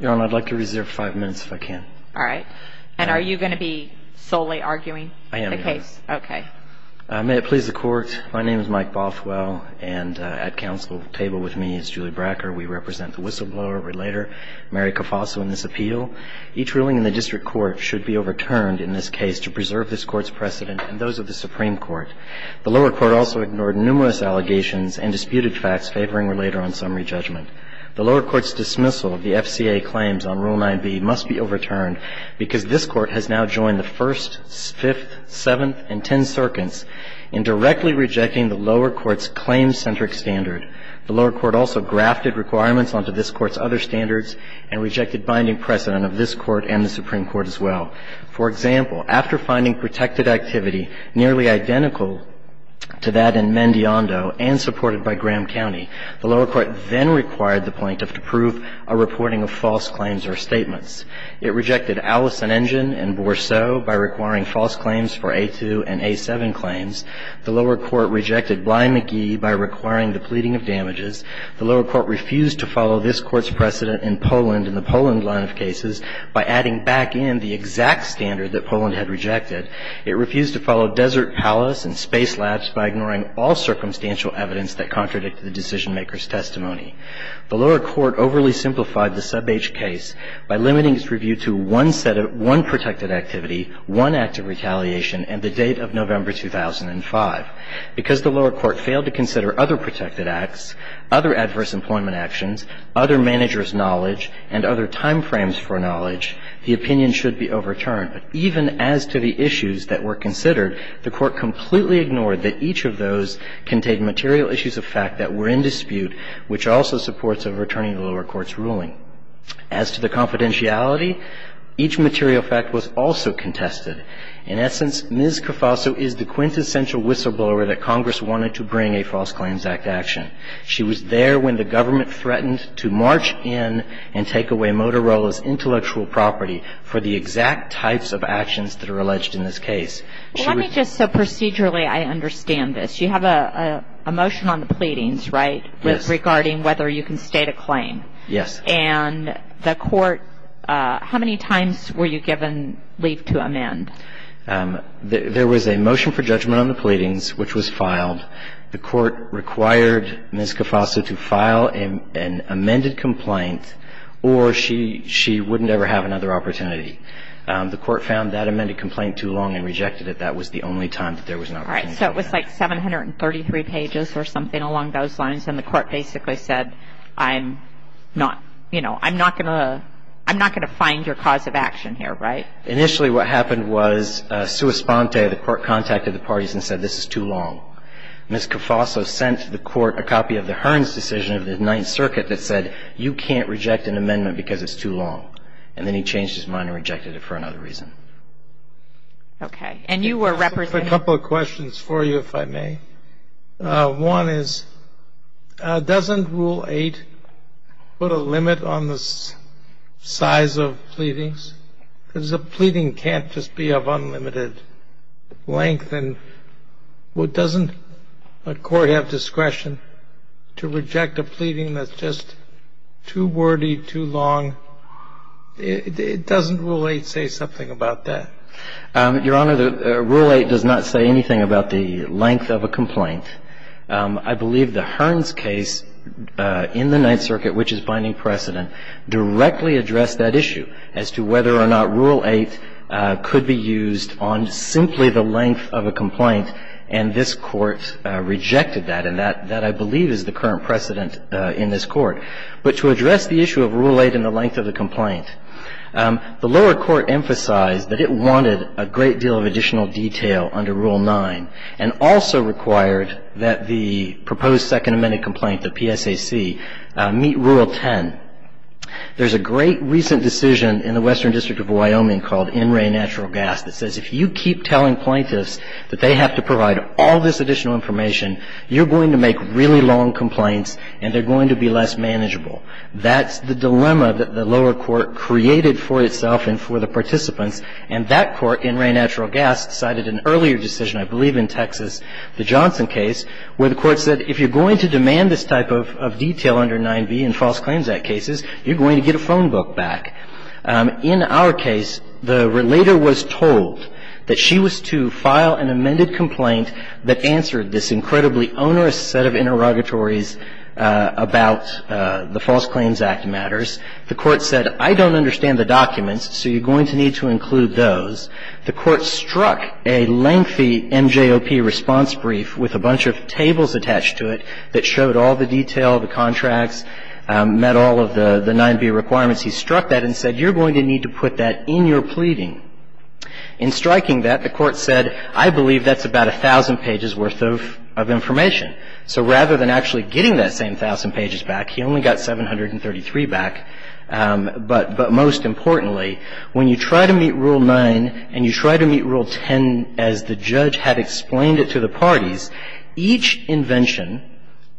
Your Honor, I'd like to reserve five minutes if I can. All right. And are you going to be solely arguing the case? I am. Okay. May it please the Court, my name is Mike Bothwell, and at Council table with me is Julie Bracker. We represent the whistleblower, relator Mary Cafasso in this appeal. Each ruling in the District Court should be overturned in this case to preserve this Court's precedent and those of the Supreme Court. The lower court also ignored numerous allegations and disputed facts favoring relator on summary judgment. The lower court's dismissal of the FCA claims on Rule 9b must be overturned because this Court has now joined the First, Fifth, Seventh, and Tenth Circuits in directly rejecting the lower court's claim-centric standard. The lower court also grafted requirements onto this Court's other standards and rejected binding precedent of this Court and the Supreme Court as well. For example, after finding protected activity nearly identical to that in Mendiondo and supported by Graham County, the lower court then required the plaintiff to prove a reporting of false claims or statements. It rejected Allison Engine and Bourseau by requiring false claims for A2 and A7 claims. The lower court rejected Bly McGee by requiring the pleading of damages. The lower court refused to follow this Court's precedent in Poland and the Poland line of cases by adding back in the exact standard that Poland had rejected. It refused to follow Desert Palace and Space Labs by ignoring all circumstantial evidence that contradicted the decision-maker's testimony. The lower court overly simplified the sub-H case by limiting its review to one set of one protected activity, one act of retaliation, and the date of November 2005. Because the lower court failed to consider other protected acts, other adverse employment actions, other managers' knowledge, and other time frames for knowledge, the opinion should be overturned. Even as to the issues that were considered, the court completely ignored that each of the material issues of fact that were in dispute, which also supports a returning to the lower court's ruling. As to the confidentiality, each material fact was also contested. In essence, Ms. Cofaso is the quintessential whistleblower that Congress wanted to bring a False Claims Act action. She was there when the government threatened to march in and take away Motorola's intellectual property for the exact types of actions that are alleged in this case. She would Well, let me just so procedurally I understand this. You have a motion on the pleadings, right? Yes. Regarding whether you can state a claim. Yes. And the court, how many times were you given leave to amend? There was a motion for judgment on the pleadings, which was filed. The court required Ms. Cofaso to file an amended complaint or she wouldn't ever have another opportunity. The court found that amended complaint too long and rejected it. That was the only time that there was another opportunity. All right. So it was like 733 pages or something along those lines, and the court basically said, I'm not, you know, I'm not going to find your cause of action here, right? Initially what happened was sua sponte, the court contacted the parties and said, this is too long. Ms. Cofaso sent the court a copy of the Hearn's decision of the Ninth Circuit that said, you can't reject an amendment because it's too long. And then he changed his mind and rejected it for another reason. Okay. And you were representing? I have a couple of questions for you, if I may. One is, doesn't Rule 8 put a limit on the size of pleadings? Because a pleading can't just be of unlimited length. And doesn't a court have discretion to reject a pleading that's just too wordy, too long? Doesn't Rule 8 say something about that? Your Honor, Rule 8 does not say anything about the length of a complaint. I believe the Hearn's case in the Ninth Circuit, which is binding precedent, directly addressed that issue as to whether or not Rule 8 could be used on simply the length of a complaint, and this Court rejected that. And that, I believe, is the current precedent in this Court. But to address the issue of Rule 8 and the length of the complaint, the lower court emphasized that it wanted a great deal of additional detail under Rule 9 and also required that the proposed Second Amendment complaint, the PSAC, meet Rule 10. There's a great recent decision in the Western District of Wyoming called NRA Natural Gas that says if you keep telling plaintiffs that they have to provide all this additional information, you're going to make really long complaints and they're going to be less manageable. That's the dilemma that the lower court created for itself and for the participants, and that court, NRA Natural Gas, cited an earlier decision, I believe in Texas, the Johnson case, where the court said if you're going to demand this type of detail under 9b in False Claims Act cases, you're going to get a phone book back. In our case, the relator was told that she was to file an amended complaint that answered this incredibly onerous set of interrogatories about the False Claims Act matters. The court said, I don't understand the documents, so you're going to need to include those. The court struck a lengthy MJOP response brief with a bunch of tables attached to it that showed all the detail, the contracts, met all of the 9b requirements. He struck that and said, you're going to need to put that in your pleading. In striking that, the court said, I believe that's about 1,000 pages worth of information. So rather than actually getting that same 1,000 pages back, he only got 733 back. But most importantly, when you try to meet Rule 9 and you try to meet Rule 10 as the judge had explained it to the parties, each invention,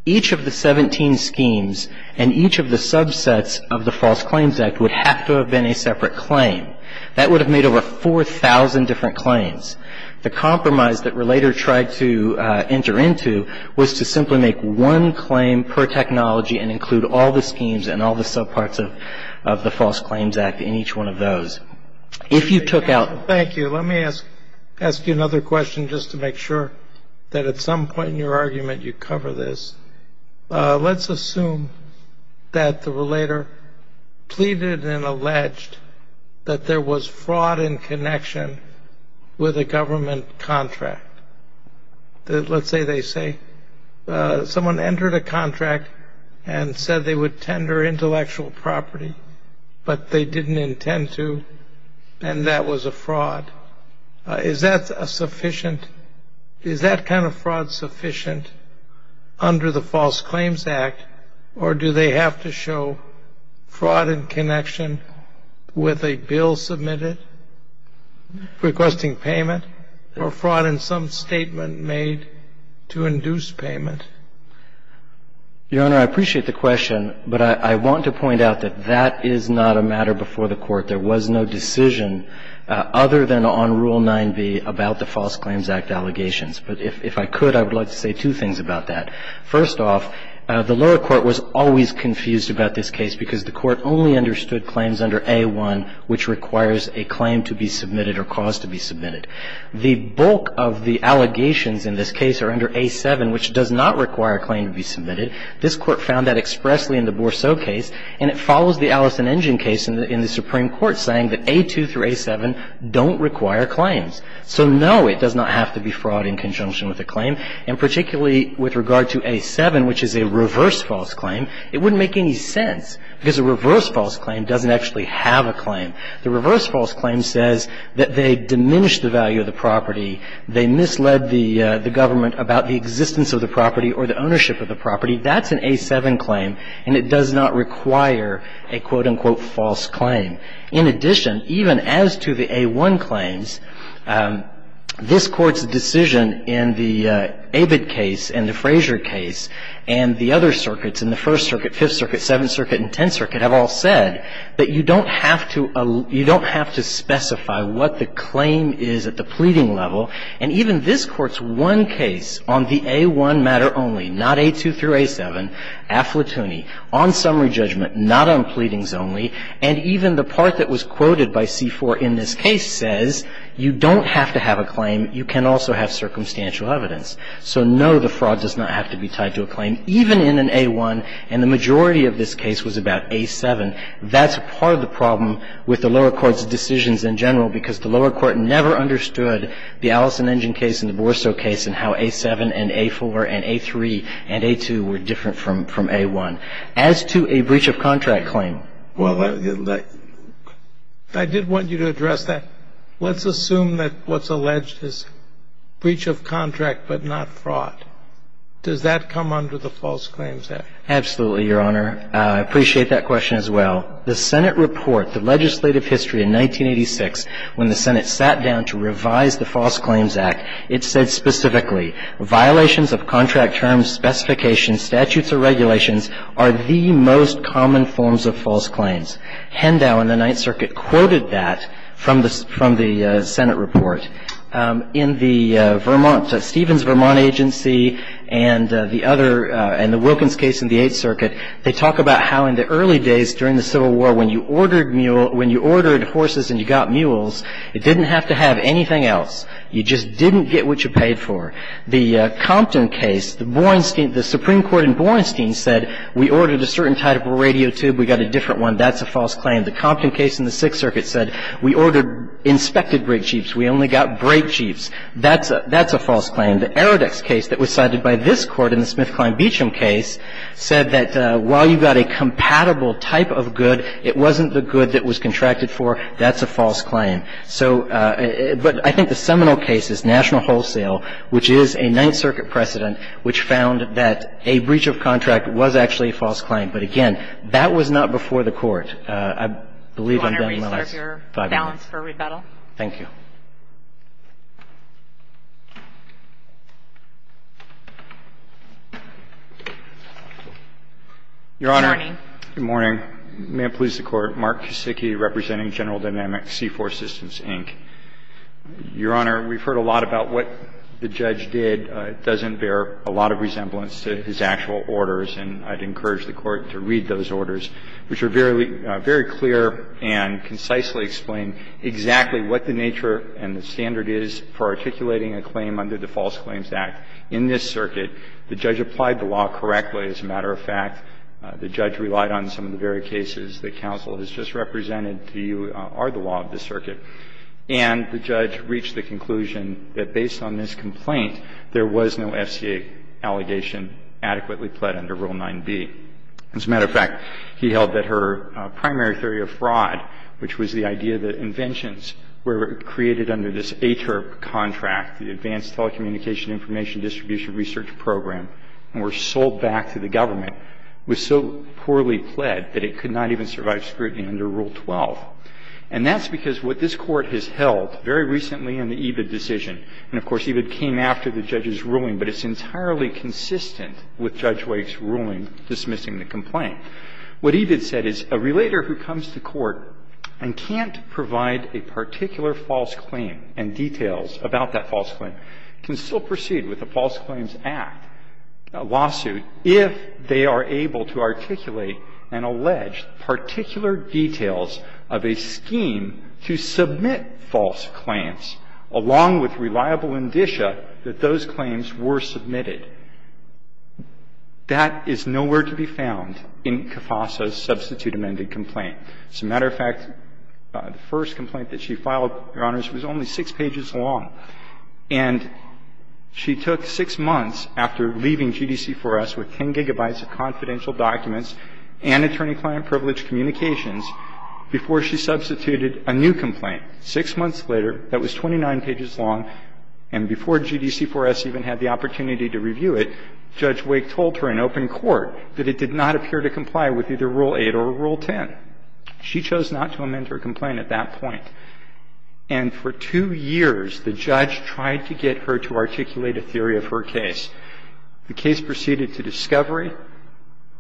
each of the 17 schemes and each of the subsets of the False Claims Act would have to have been a separate claim. That would have made over 4,000 different claims. The compromise that Relator tried to enter into was to simply make one claim per technology and include all the schemes and all the subparts of the False Claims Act in each one of those. If you took out... Thank you. Let me ask you another question just to make sure that at some point in your argument you cover this. Let's assume that the Relator pleaded and alleged that there was fraud in connection with a government contract. Let's say they say someone entered a contract and said they would tender intellectual property, but they didn't intend to, and that was a fraud. Is that kind of fraud sufficient under the False Claims Act, or do they have to show fraud in connection with a bill submitted requesting payment or fraud in some statement made to induce payment? Your Honor, I appreciate the question, but I want to point out that that is not a matter before the Court. There was no decision other than on Rule 9b about the False Claims Act allegations. But if I could, I would like to say two things about that. First off, the lower court was always confused about this case because the Court only understood claims under A1, which requires a claim to be submitted or cause to be submitted. The bulk of the allegations in this case are under A7, which does not require a claim to be submitted. This Court found that expressly in the Bourceau case, and it follows the Allison-Engin case in the Supreme Court, saying that A2 through A7 don't require claims. So no, it does not have to be fraud in conjunction with a claim. And particularly with regard to A7, which is a reverse false claim, it wouldn't make any sense because a reverse false claim doesn't actually have a claim. The reverse false claim says that they diminished the value of the property, they misled the government about the existence of the property or the ownership of the property. That's an A7 claim, and it does not require a, quote, unquote, false claim. In addition, even as to the A1 claims, this Court's decision in the Abed case and the Frazier case and the other circuits, in the First Circuit, Fifth Circuit, Seventh Circuit and Tenth Circuit, have all said that you don't have to specify what the claim is at the pleading level, and even this Court's one case on the A1 matter only, not A2 through A7, afflatoony, on summary judgment, not on pleadings only, and even the part that was quoted by C4 in this case says you don't have to have a claim, you can also have circumstantial evidence. So no, the fraud does not have to be tied to a claim, even in an A1, and the majority of this case was about A7. That's part of the problem with the lower court's decisions in general, because the lower court never understood the Allison-Engin case and the Borso case and how A7 and A4 and A3 and A2 were different from A1. As to a breach of contract claim. Well, I did want you to address that. Let's assume that what's alleged is breach of contract but not fraud. Does that come under the false claims act? Absolutely, Your Honor. I appreciate that question as well. The Senate report, the legislative history in 1986, when the Senate sat down to revise the False Claims Act, it said specifically, violations of contract terms, specifications, statutes, or regulations are the most common forms of false claims. Hendow in the Ninth Circuit quoted that from the Senate report. In the Vermont, Stevens-Vermont agency and the Wilkins case in the Eighth Circuit, they talk about how in the early days during the Civil War when you ordered horses and you got mules, it didn't have to have anything else. You just didn't get what you paid for. The Compton case, the Supreme Court in Borenstein said we ordered a certain type of radio tube, we got a different one. That's a false claim. The Compton case in the Sixth Circuit said we ordered inspected brake jeeps. We only got brake jeeps. That's a false claim. And the Arodex case that was cited by this Court in the Smith-Klein-Beacham case said that while you got a compatible type of good, it wasn't the good that was contracted for. That's a false claim. So, but I think the seminal case is National Wholesale, which is a Ninth Circuit precedent, which found that a breach of contract was actually a false claim. But again, that was not before the Court. I believe I'm done in the last five minutes. With this, I'm going to put my hand on the record for the balance for rebuttal. Thank you. Good morning, Your Honor. Good morning. May it please the Court, Mark Kisicki representing General Dynamics C-4 assistance Inc. Your Honor, we've heard a lot about what the judge did. It doesn't bear a lot of resemblance to his actual orders, and I'd encourage the Court to read those orders, which are very clear and concisely explain exactly what the nature and the standard is for articulating a claim under the False Claims Act in this circuit. The judge applied the law correctly, as a matter of fact. The judge relied on some of the very cases that counsel has just represented to you are the law of the circuit. And the judge reached the conclusion that based on this complaint, there was no FCA allegation adequately pled under Rule 9b. As a matter of fact, he held that her primary theory of fraud, which was the idea that inventions were created under this ATERP contract, the Advanced Telecommunication Information Distribution Research Program, and were sold back to the government, was so poorly pled that it could not even survive scrutiny under Rule 12. And that's because what this Court has held very recently in the Evid decision, and of course, Evid came after the judge's ruling, but it's entirely consistent with Judge Wake's ruling dismissing the complaint. What Evid said is a relator who comes to court and can't provide a particular false claim and details about that false claim can still proceed with the False Claims Act lawsuit if they are able to articulate and allege particular details of a scheme to submit false claims, along with reliable indicia that those claims were submitted. That is nowhere to be found in Cafasa's substitute amended complaint. As a matter of fact, the first complaint that she filed, Your Honors, was only six pages long, and she took six months after leaving GDC4S with 10 gigabytes of confidential documents and attorney-client privilege communications before she substituted a new complaint. Six months later, that was 29 pages long, and before GDC4S even had the opportunity to review it, Judge Wake told her in open court that it did not appear to comply with either Rule 8 or Rule 10. She chose not to amend her complaint at that point. And for two years, the judge tried to get her to articulate a theory of her case. The case proceeded to discovery.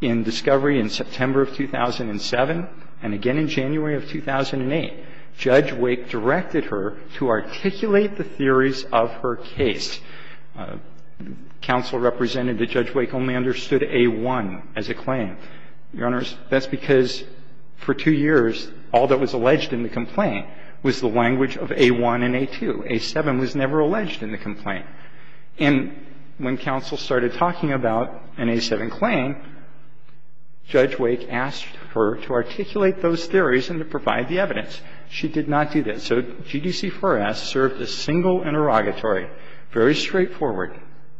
In discovery in September of 2007 and again in January of 2008, Judge Wake directed her to articulate the theories of her case. Counsel represented that Judge Wake only understood A-1 as a claim. Your Honors, that's because for two years, all that was alleged in the complaint was the language of A-1 and A-2. A-7 was never alleged in the complaint. And when counsel started talking about an A-7 claim, Judge Wake asked her to articulate those theories and to provide the evidence. She did not do that. So GDC4S served a single interrogatory, very straightforward,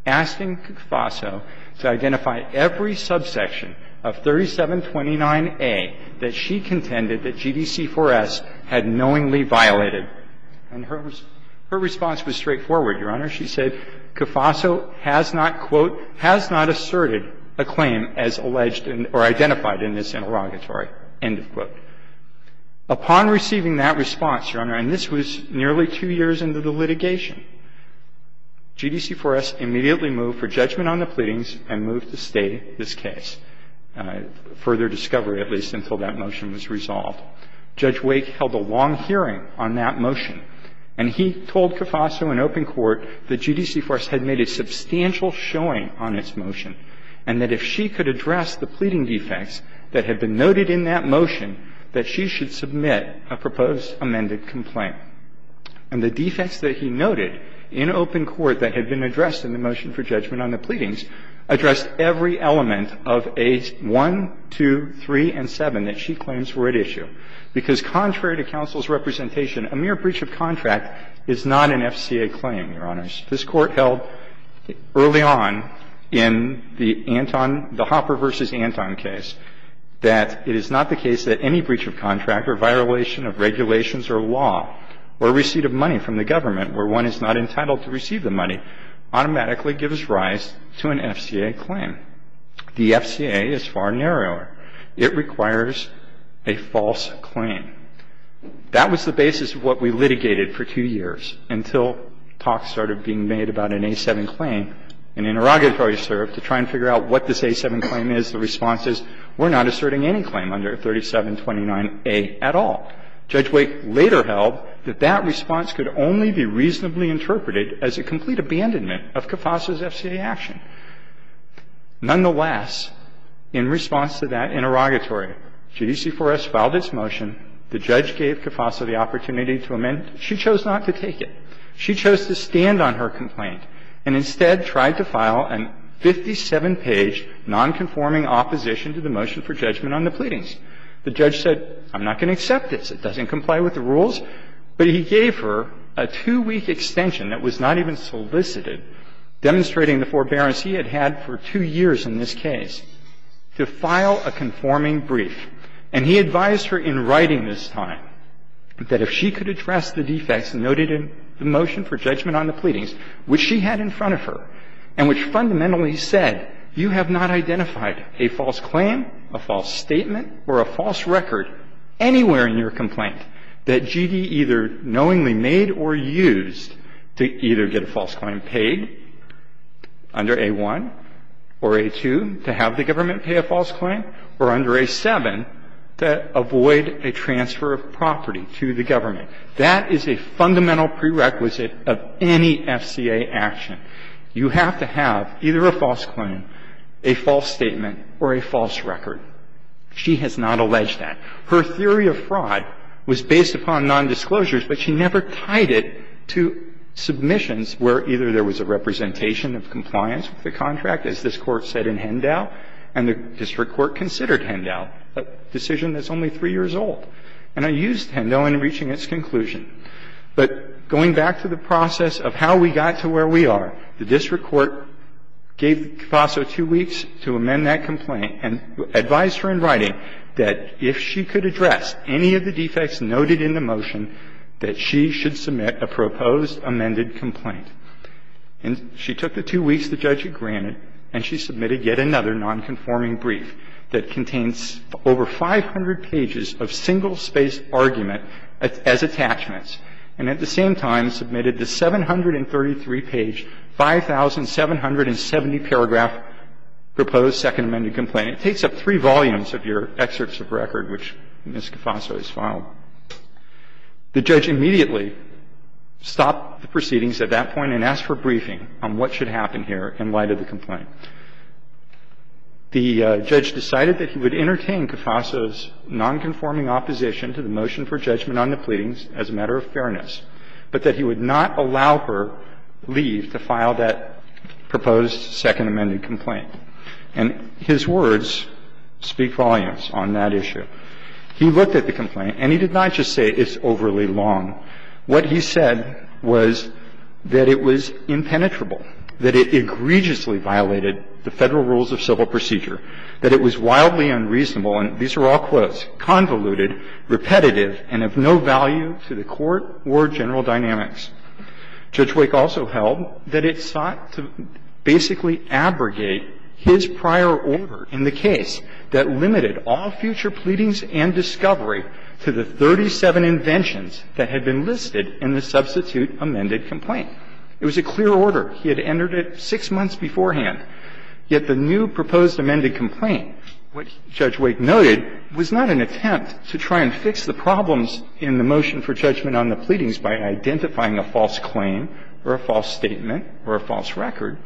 asking Cufasso to identify every subsection of 3729A that she contended that GDC4S had knowingly violated. And her response was straightforward, Your Honors. She said, Cufasso has not, quote, has not asserted a claim as alleged or identified in this interrogatory, end of quote. Upon receiving that response, Your Honor, and this was nearly two years into the litigation, GDC4S immediately moved for judgment on the pleadings and moved to stay this case, further discovery at least, until that motion was resolved. Judge Wake held a long hearing on that motion. And he told Cufasso in open court that GDC4S had made a substantial showing on its motion and that if she could address the pleading defects that had been noted in that motion, that she should submit a proposed amended complaint. And the defects that he noted in open court that had been addressed in the motion for judgment on the pleadings addressed every element of A-1, 2, 3, and 7 that she claims were at issue. Because contrary to counsel's representation, a mere breach of contract is not an FCA claim, Your Honors. This Court held early on in the Anton, the Hopper v. Anton case, that it is not the case that any breach of contract or violation of regulations or law or receipt of money from the government where one is not entitled to receive the money automatically gives rise to an FCA claim. The FCA is far narrower. It requires a false claim. That was the basis of what we litigated for two years until talk started being made about an A-7 claim, an interrogatory assert, to try and figure out what this A-7 claim is. The response is, we're not asserting any claim under 3729A at all. Judge Wake later held that that response could only be reasonably interpreted as a complete abandonment of Cufasso's FCA action. Nonetheless, in response to that interrogatory, JDC4S filed its motion. The judge gave Cufasso the opportunity to amend. She chose not to take it. She chose to stand on her complaint and instead tried to file a 57-page nonconforming opposition to the motion for judgment on the pleadings. The judge said, I'm not going to accept this. It doesn't comply with the rules. The judge then decided, following the forbearance he had had for two years in this case, to file a conforming brief. And he advised her in writing this time that if she could address the defects noted in the motion for judgment on the pleadings, which she had in front of her, and which fundamentally said you have not identified a false claim, a false statement, or a false record anywhere in your complaint that GD either knowingly made or used to either get a false claim paid under A-1 or A-2 to have the government pay a false claim, or under A-7 to avoid a transfer of property to the government. That is a fundamental prerequisite of any FCA action. You have to have either a false claim, a false statement, or a false record. She has not alleged that. Her theory of fraud was based upon nondisclosures, but she never tied it to a false And so, in this case, we have two submissions where either there was a representation of compliance with the contract, as this Court said in Hendow, and the district court considered Hendow, a decision that's only three years old. And I used Hendow in reaching its conclusion. But going back to the process of how we got to where we are, the district court gave FASO two weeks to amend that complaint and advised her in writing that if she could address any of the defects noted in the motion, that she should submit a proposed amended complaint. And she took the two weeks the judge had granted, and she submitted yet another nonconforming brief that contains over 500 pages of single-spaced argument as attachments, and at the same time submitted the 733-page, 5,770-paragraph proposed second amended complaint. It takes up three volumes of your excerpts of record, which we'll get to in a moment, but it's a very important document that Ms. Caffasso has filed. The judge immediately stopped the proceedings at that point and asked for a briefing on what should happen here in light of the complaint. The judge decided that he would entertain Caffasso's nonconforming opposition to the motion for judgment on the pleadings as a matter of fairness, but that he would not allow her leave to file that proposed second amended complaint. And his words speak volumes on that issue. He looked at the complaint, and he did not just say it's overly long. What he said was that it was impenetrable, that it egregiously violated the Federal rules of civil procedure, that it was wildly unreasonable, and these are all quotes, convoluted, repetitive, and of no value to the Court or general dynamics. Judge Wake also held that it sought to basically abrogate his prior order in the case that limited all future pleadings and discovery to the 37 inventions that had been listed in the substitute amended complaint. It was a clear order. He had entered it six months beforehand. Yet the new proposed amended complaint, which Judge Wake noted, was not an attempt to try and fix the problems in the motion for judgment on the pleadings by identifying a false claim or a false statement or a false record,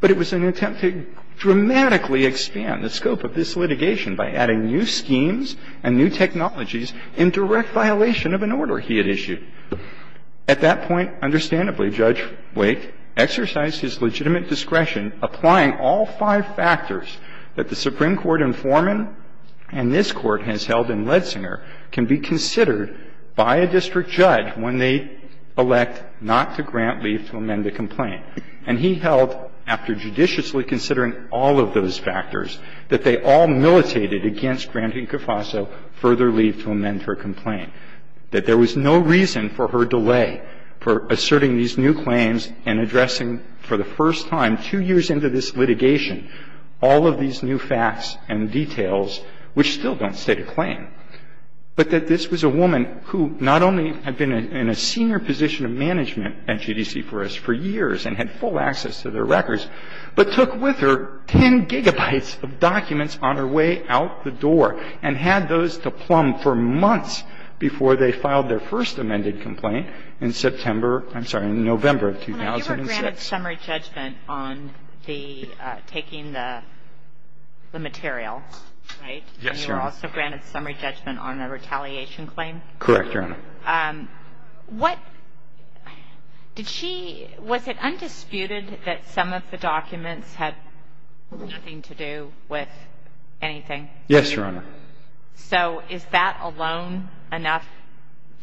but it was an attempt to dramatically expand the scope of this litigation by adding new schemes and new technologies in direct violation of an order he had issued. At that point, understandably, Judge Wake exercised his legitimate discretion applying all five factors that the Supreme Court in Foreman and this Court has held in Ledsinger can be considered by a district judge when they elect not to grant leave to amend the complaint. And he held, after judiciously considering all of those factors, that they all militated against granting Cofaso further leave to amend her complaint, that there was no reason for her delay for asserting these new claims and addressing, for the first time, two years into this litigation, all of these new facts and details which still don't state a claim, but that this was a woman who not only had been in a senior position of management at GDC for us for years and had full access to their records, but took with her 10 gigabytes of documents on her way out the door and had those to plumb for months before they filed their first amended complaint in September – I'm sorry, in November of 2006. – You were granted summary judgment on the – taking the material, right? – Yes, Your Honor. – And you were also granted summary judgment on the retaliation claim? – Correct, Your Honor. – What – did she – was it undisputed that some of the documents had nothing to do with anything? – Yes, Your Honor. – So is that alone enough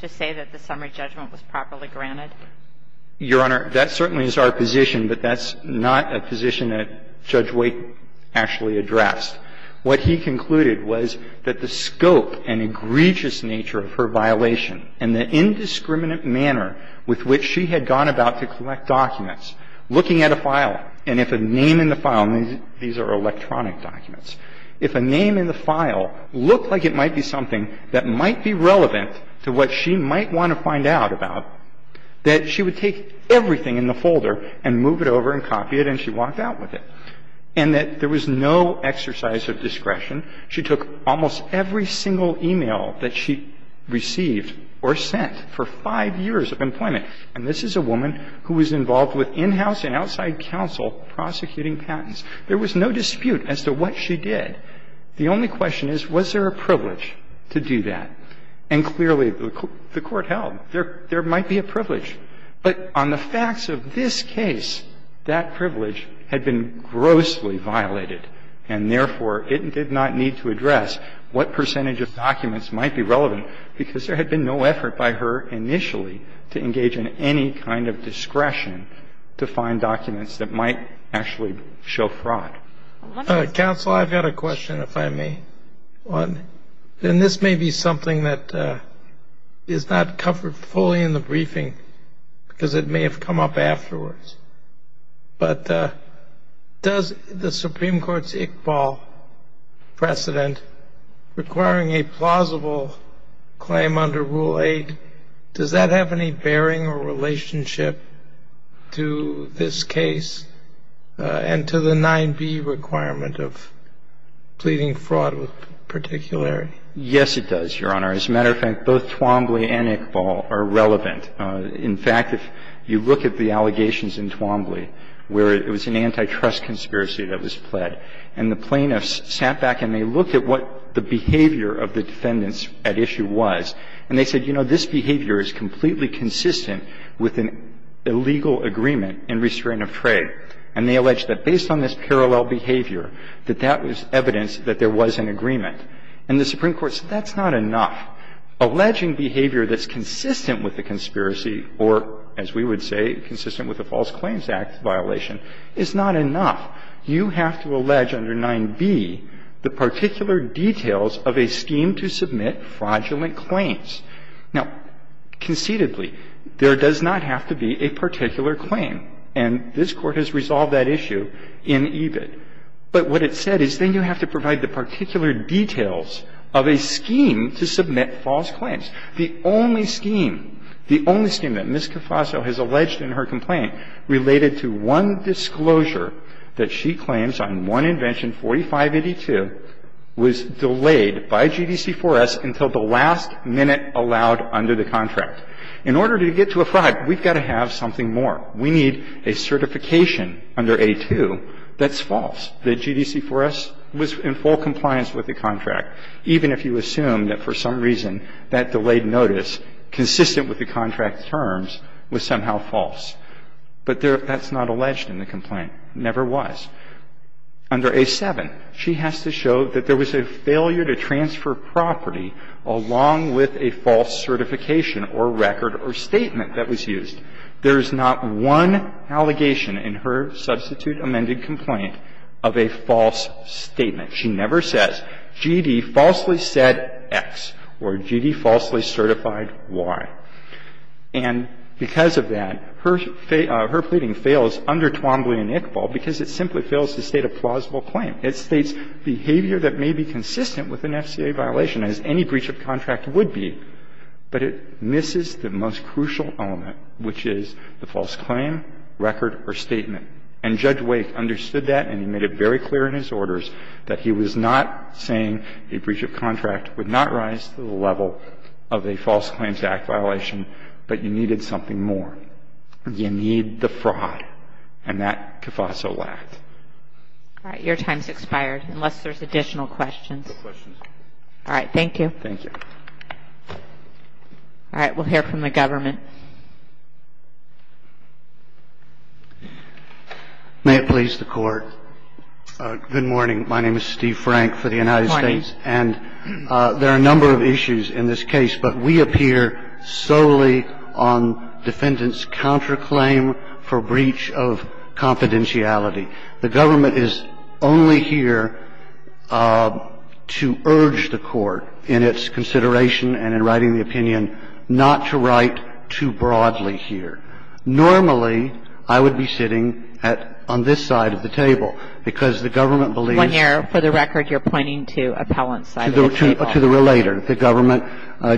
to say that the summary judgment was properly granted? – Your Honor, that certainly is our position, but that's not a position that Judge Waite actually addressed. What he concluded was that the scope and egregious nature of her violation and the indiscriminate manner with which she had gone about to collect documents, looking at a file, and if a name in the file – and these are electronic documents – if a name in the file looked like it might be something that might be relevant to what she might want to find out about, that she would take everything in the folder and move it over and copy it and she walked out with it, and that there was no exercise of discretion. She took almost every single e-mail that she received or sent for five years of employment. And this is a woman who was involved with in-house and outside counsel prosecuting patents. There was no dispute as to what she did. The only question is, was there a privilege to do that? And clearly, the Court held there might be a privilege. But on the facts of this case, that privilege had been grossly violated, and therefore, it did not need to address what percentage of documents might be relevant, because there had been no effort by her initially to engage in any kind of discretion to find documents that might actually show fraud. Counsel, I've got a question, if I may. And this may be something that is not covered fully in the briefing, because it may have come up afterwards. But does the Supreme Court's Iqbal precedent requiring a plausible claim under Rule 8, does that have any bearing or relationship to this case and to the 9b requirement of pleading fraud with particularity? Yes, it does, Your Honor. As a matter of fact, both Twombly and Iqbal are relevant. In fact, if you look at the allegations in Twombly, where it was an antitrust conspiracy that was pled, and the plaintiffs sat back and they looked at what the behavior of the defendants at issue was, and they said, you know, this behavior is completely consistent with an illegal agreement in restraint of trade, and they alleged that based on this parallel behavior, that that was evidence that there was an agreement. And the Supreme Court said that's not enough. Alleging behavior that's consistent with the conspiracy or, as we would say, consistent with a False Claims Act violation is not enough. You have to allege under 9b the particular details of a scheme to submit fraudulent claims. Now, conceitedly, there does not have to be a particular claim. And this Court has resolved that issue in EBIT. But what it said is then you have to provide the particular details of a scheme to submit false claims. The only scheme, the only scheme that Ms. Cafasso has alleged in her complaint related to one disclosure that she claims on one invention, 4582, was delayed by GDC-4S until the last minute allowed under the contract. In order to get to a fraud, we've got to have something more. We need a certification under A-2 that's false, that GDC-4S was in full compliance with the contract, even if you assume that for some reason that delayed notice consistent with the contract terms was somehow false. But that's not alleged in the complaint. It never was. Under A-7, she has to show that there was a failure to transfer property along with a false certification or record or statement that was used. There is not one allegation in her substitute amended complaint of a false statement. She never says, GD falsely said X or GD falsely certified Y. And because of that, her pleading fails under Twombly and Iqbal because it simply fails to state a plausible claim. It states behavior that may be consistent with an FCA violation, as any breach of contract would be, but it misses the most crucial element, which is the false claim, record or statement. And Judge Wake understood that and he made it very clear in his orders that he was not saying a breach of contract would not rise to the level of a false claims act violation, but you needed something more. You need the fraud. And that CAFASO lacked. All right. Your time's expired, unless there's additional questions. No questions. All right. Thank you. Thank you. All right. We'll hear from the government. May it please the Court. Good morning. My name is Steve Frank for the United States. And there are a number of issues in this case, but we appear solely on defendant's counterclaim for breach of confidentiality. The government is only here to urge the Court in its consideration and in writing the opinion not to write too broadly here. Normally, I would be sitting at – on this side of the table because the government believes – When you're – for the record, you're pointing to appellant's side of the table. To the relator. The government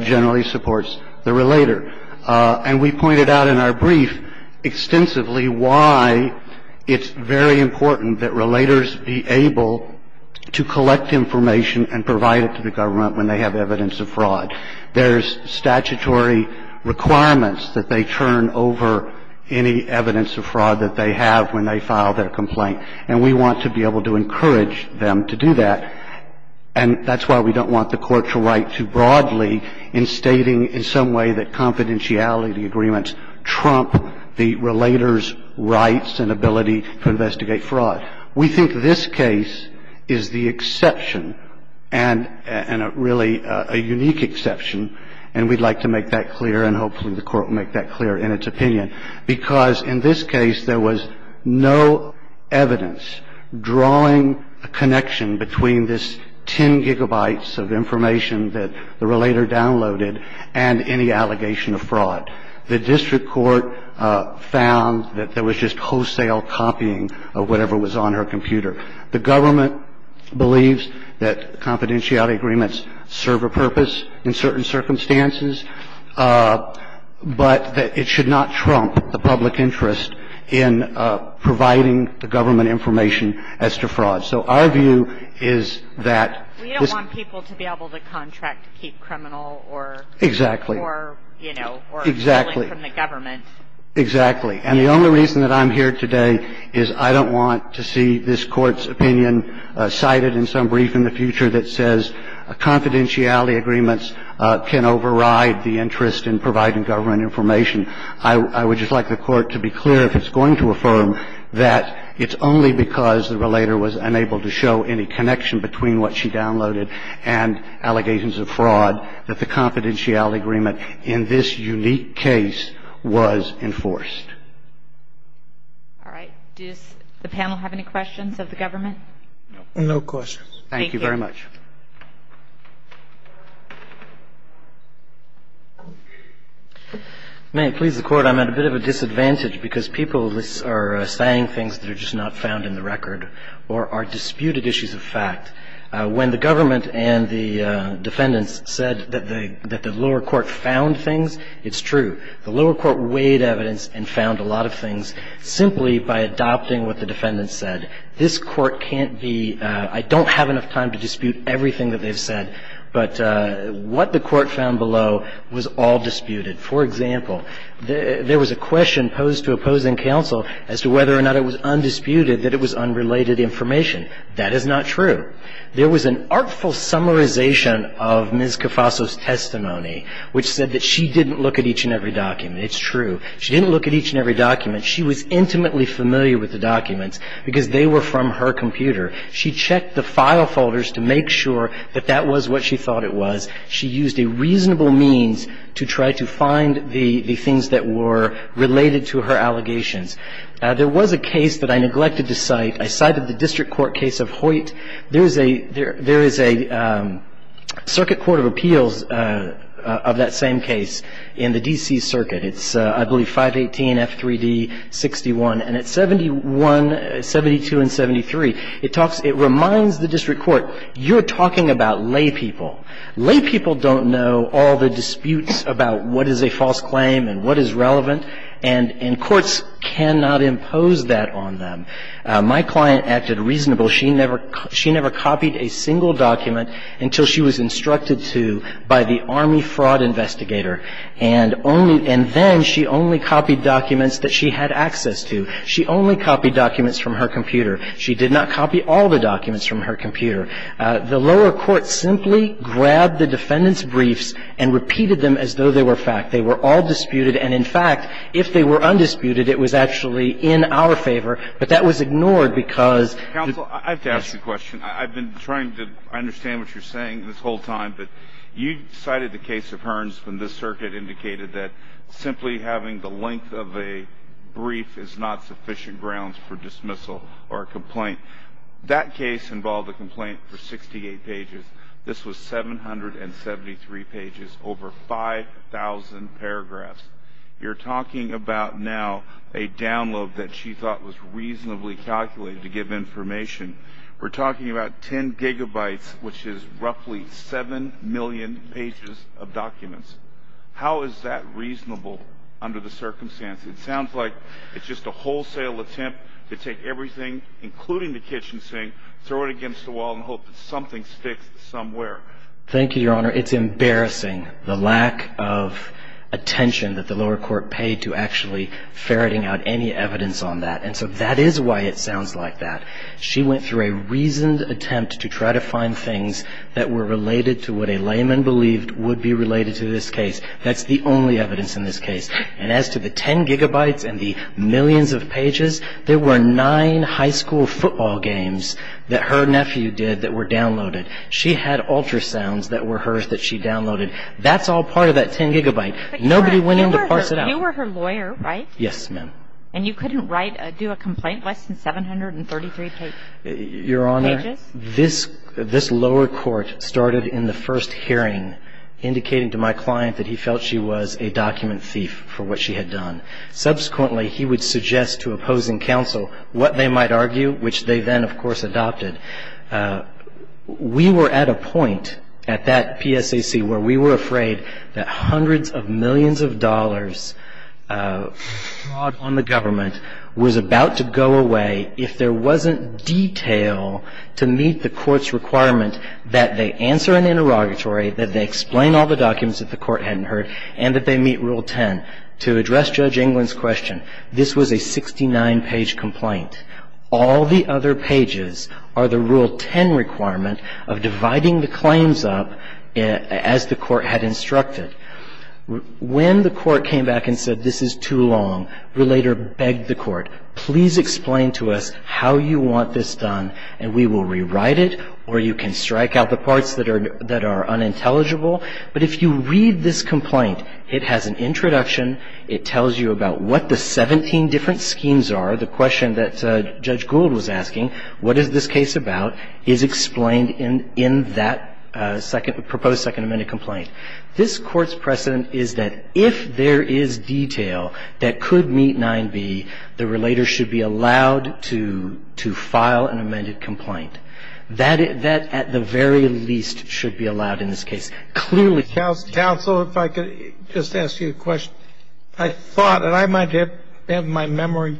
generally supports the relator. And we pointed out in our brief extensively why it's very important that relators be able to collect information and provide it to the government when they have evidence of fraud. There's statutory requirements that they turn over any evidence of fraud that they have when they file their complaint. And we want to be able to encourage them to do that. And that's why we don't want the Court to write too broadly in stating in some way that confidentiality agreements trump the relator's rights and ability to investigate fraud. We think this case is the exception and – and a really – a unique exception. And we'd like to make that clear and hopefully the Court will make that clear in its opinion. Because in this case, there was no evidence drawing a connection between this 10 gigabytes of information that the relator downloaded and any allegation of fraud. The district court found that there was just wholesale copying of whatever was on her computer. The government believes that confidentiality agreements serve a purpose in certain circumstances, but that it should not trump the public interest in providing the government information as to fraud. So our view is that this – We don't want people to be able to contract to keep criminal or – Exactly. Or, you know, or – Exactly. – stealing from the government. Exactly. And the only reason that I'm here today is I don't want to see this Court's opinion cited in some brief in the future that says confidentiality agreements can override the interest in providing government information. I would just like the Court to be clear, if it's going to affirm, that it's only because the relator was unable to show any connection between what she downloaded and allegations of fraud that the confidentiality agreement in this unique case was enforced. All right. Does the panel have any questions of the government? No questions. Thank you very much. May I please the Court? I'm at a bit of a disadvantage because people are saying things that are just not found in the record or are disputed issues of fact. When the government and the defendants said that the lower court found things, it's true. The lower court weighed evidence and found a lot of things simply by adopting what the defendants said. This Court can't be – I don't have enough time to dispute everything that they've said, but what the Court found below was all disputed. For example, there was a question posed to opposing counsel as to whether or not it was undisputed that it was unrelated information. That is not true. There was an artful summarization of Ms. Cofaso's testimony which said that she didn't look at each and every document. It's true. She didn't look at each and every document. She was intimately familiar with the documents because they were from her computer. She checked the file folders to make sure that that was what she thought it was. She used a reasonable means to try to find the things that were related to her allegations. There was a case that I neglected to cite. I cited the district court case of Hoyt. There is a – there is a circuit court of appeals of that same case in the D.C. It's, I believe, 518F3D61, and at 71 – 72 and 73, it talks – it reminds the district court, you're talking about laypeople. Laypeople don't know all the disputes about what is a false claim and what is relevant, and courts cannot impose that on them. My client acted reasonable. She never – she never copied a single document until she was instructed to by the army fraud investigator, and only – and then she only copied documents that she had access to. She only copied documents from her computer. She did not copy all the documents from her computer. The lower court simply grabbed the defendant's briefs and repeated them as though they were fact. They were all disputed, and in fact, if they were undisputed, it was actually in our favor, but that was ignored because – Counsel, I have to ask you a question. I've been trying to understand what you're saying this whole time, but you cited the case of Hearns when this circuit indicated that simply having the length of a brief is not sufficient grounds for dismissal or a complaint. That case involved a complaint for 68 pages. This was 773 pages, over 5,000 paragraphs. You're talking about now a download that she thought was reasonably calculated to give information. We're talking about 10 gigabytes, which is roughly 7 million pages of documents. How is that reasonable under the circumstance? It sounds like it's just a wholesale attempt to take everything, including the kitchen sink, throw it against the wall and hope that something sticks somewhere. Thank you, Your Honor. It's embarrassing, the lack of attention that the lower court paid to actually ferreting out any evidence on that. And so that is why it sounds like that. She went through a reasoned attempt to try to find things that were related to what a layman believed would be related to this case. That's the only evidence in this case. And as to the 10 gigabytes and the millions of pages, there were nine high school football games that her nephew did that were downloaded. She had ultrasounds that were hers that she downloaded. That's all part of that 10 gigabyte. Nobody went in to parse it out. You were her lawyer, right? Yes, ma'am. And you couldn't write or do a complaint less than 733 pages? Your Honor, this lower court started in the first hearing indicating to my client that he felt she was a document thief for what she had done. Subsequently, he would suggest to opposing counsel what they might argue, which they then, of course, adopted. We were at a point at that PSAC where we were afraid that hundreds of millions of dollars fraud on the government was about to go away if there wasn't detail to meet the court's requirement that they answer an interrogatory, that they explain all the documents that the court hadn't heard, and that they meet Rule 10. To address Judge England's question, this was a 69-page complaint. All the other pages are the Rule 10 requirement of dividing the claims up as the court had instructed. When the court came back and said, this is too long, the relator begged the court, please explain to us how you want this done, and we will rewrite it, or you can strike out the parts that are unintelligible. But if you read this complaint, it has an introduction. It tells you about what the 17 different schemes are. The question that Judge Gould was asking, what is this case about, is explained in that second, proposed second amended complaint. This Court's precedent is that if there is detail that could meet 9b, the relator should be allowed to file an amended complaint. That, at the very least, should be allowed in this case. Clearly, it's not the case. Counsel, if I could just ask you a question. I thought, and I might have my memory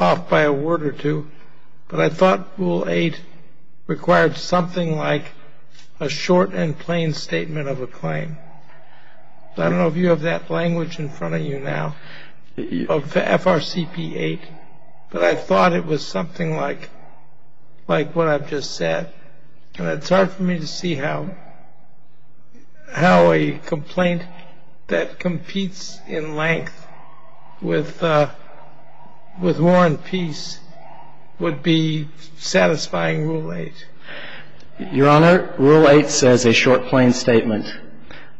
off by a word or two, but I thought Rule 8 required something like a short and plain statement of a claim. I don't know if you have that language in front of you now, of FRCP 8, but I thought it was something like what I've just said. And it's hard for me to see how a complaint that competes in length with war and peace would be satisfying Rule 8. Your Honor, Rule 8 says a short, plain statement.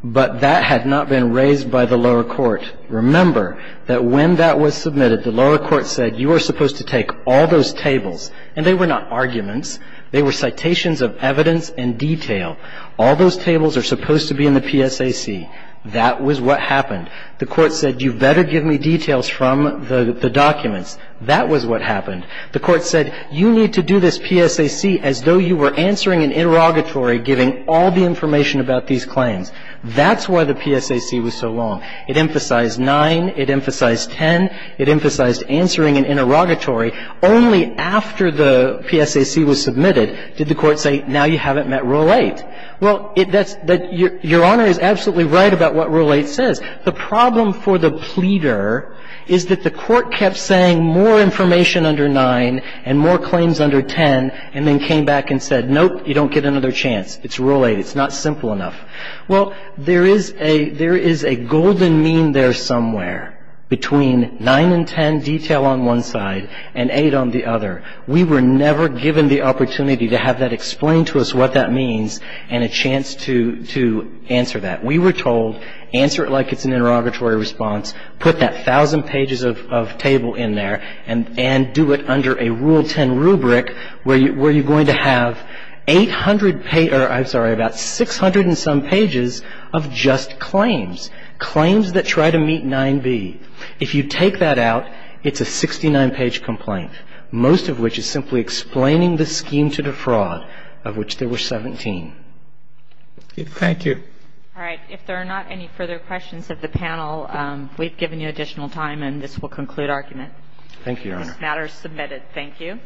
But that had not been raised by the lower court. Remember that when that was submitted, the lower court said you were supposed to take all those tables. And they were not arguments. They were citations of evidence and detail. All those tables are supposed to be in the PSAC. That was what happened. The court said you better give me details from the documents. That was what happened. The court said you need to do this PSAC as though you were answering an interrogatory giving all the information about these claims. That's why the PSAC was so long. It emphasized 9, it emphasized 10, it emphasized answering an interrogatory only after the PSAC was submitted did the court say now you haven't met Rule 8. Well, that's – your Honor is absolutely right about what Rule 8 says. The problem for the pleader is that the court kept saying more information under 9 and more claims under 10 and then came back and said, nope, you don't get another chance. It's Rule 8. It's not simple enough. Well, there is a – there is a golden mean there somewhere between 9 and 10 detail on one side and 8 on the other. We were never given the opportunity to have that explained to us what that means and a chance to answer that. We were told answer it like it's an interrogatory response, put that thousand pages of table in there and do it under a Rule 10 rubric where you're going to have 800 – I'm sorry, about 600 and some pages of just claims, claims that try to meet 9B. If you take that out, it's a 69-page complaint, most of which is simply explaining the scheme to defraud of which there were 17. Thank you. All right. If there are not any further questions of the panel, we've given you additional time and this will conclude argument. Thank you, Your Honor. This matter is submitted. Thank you.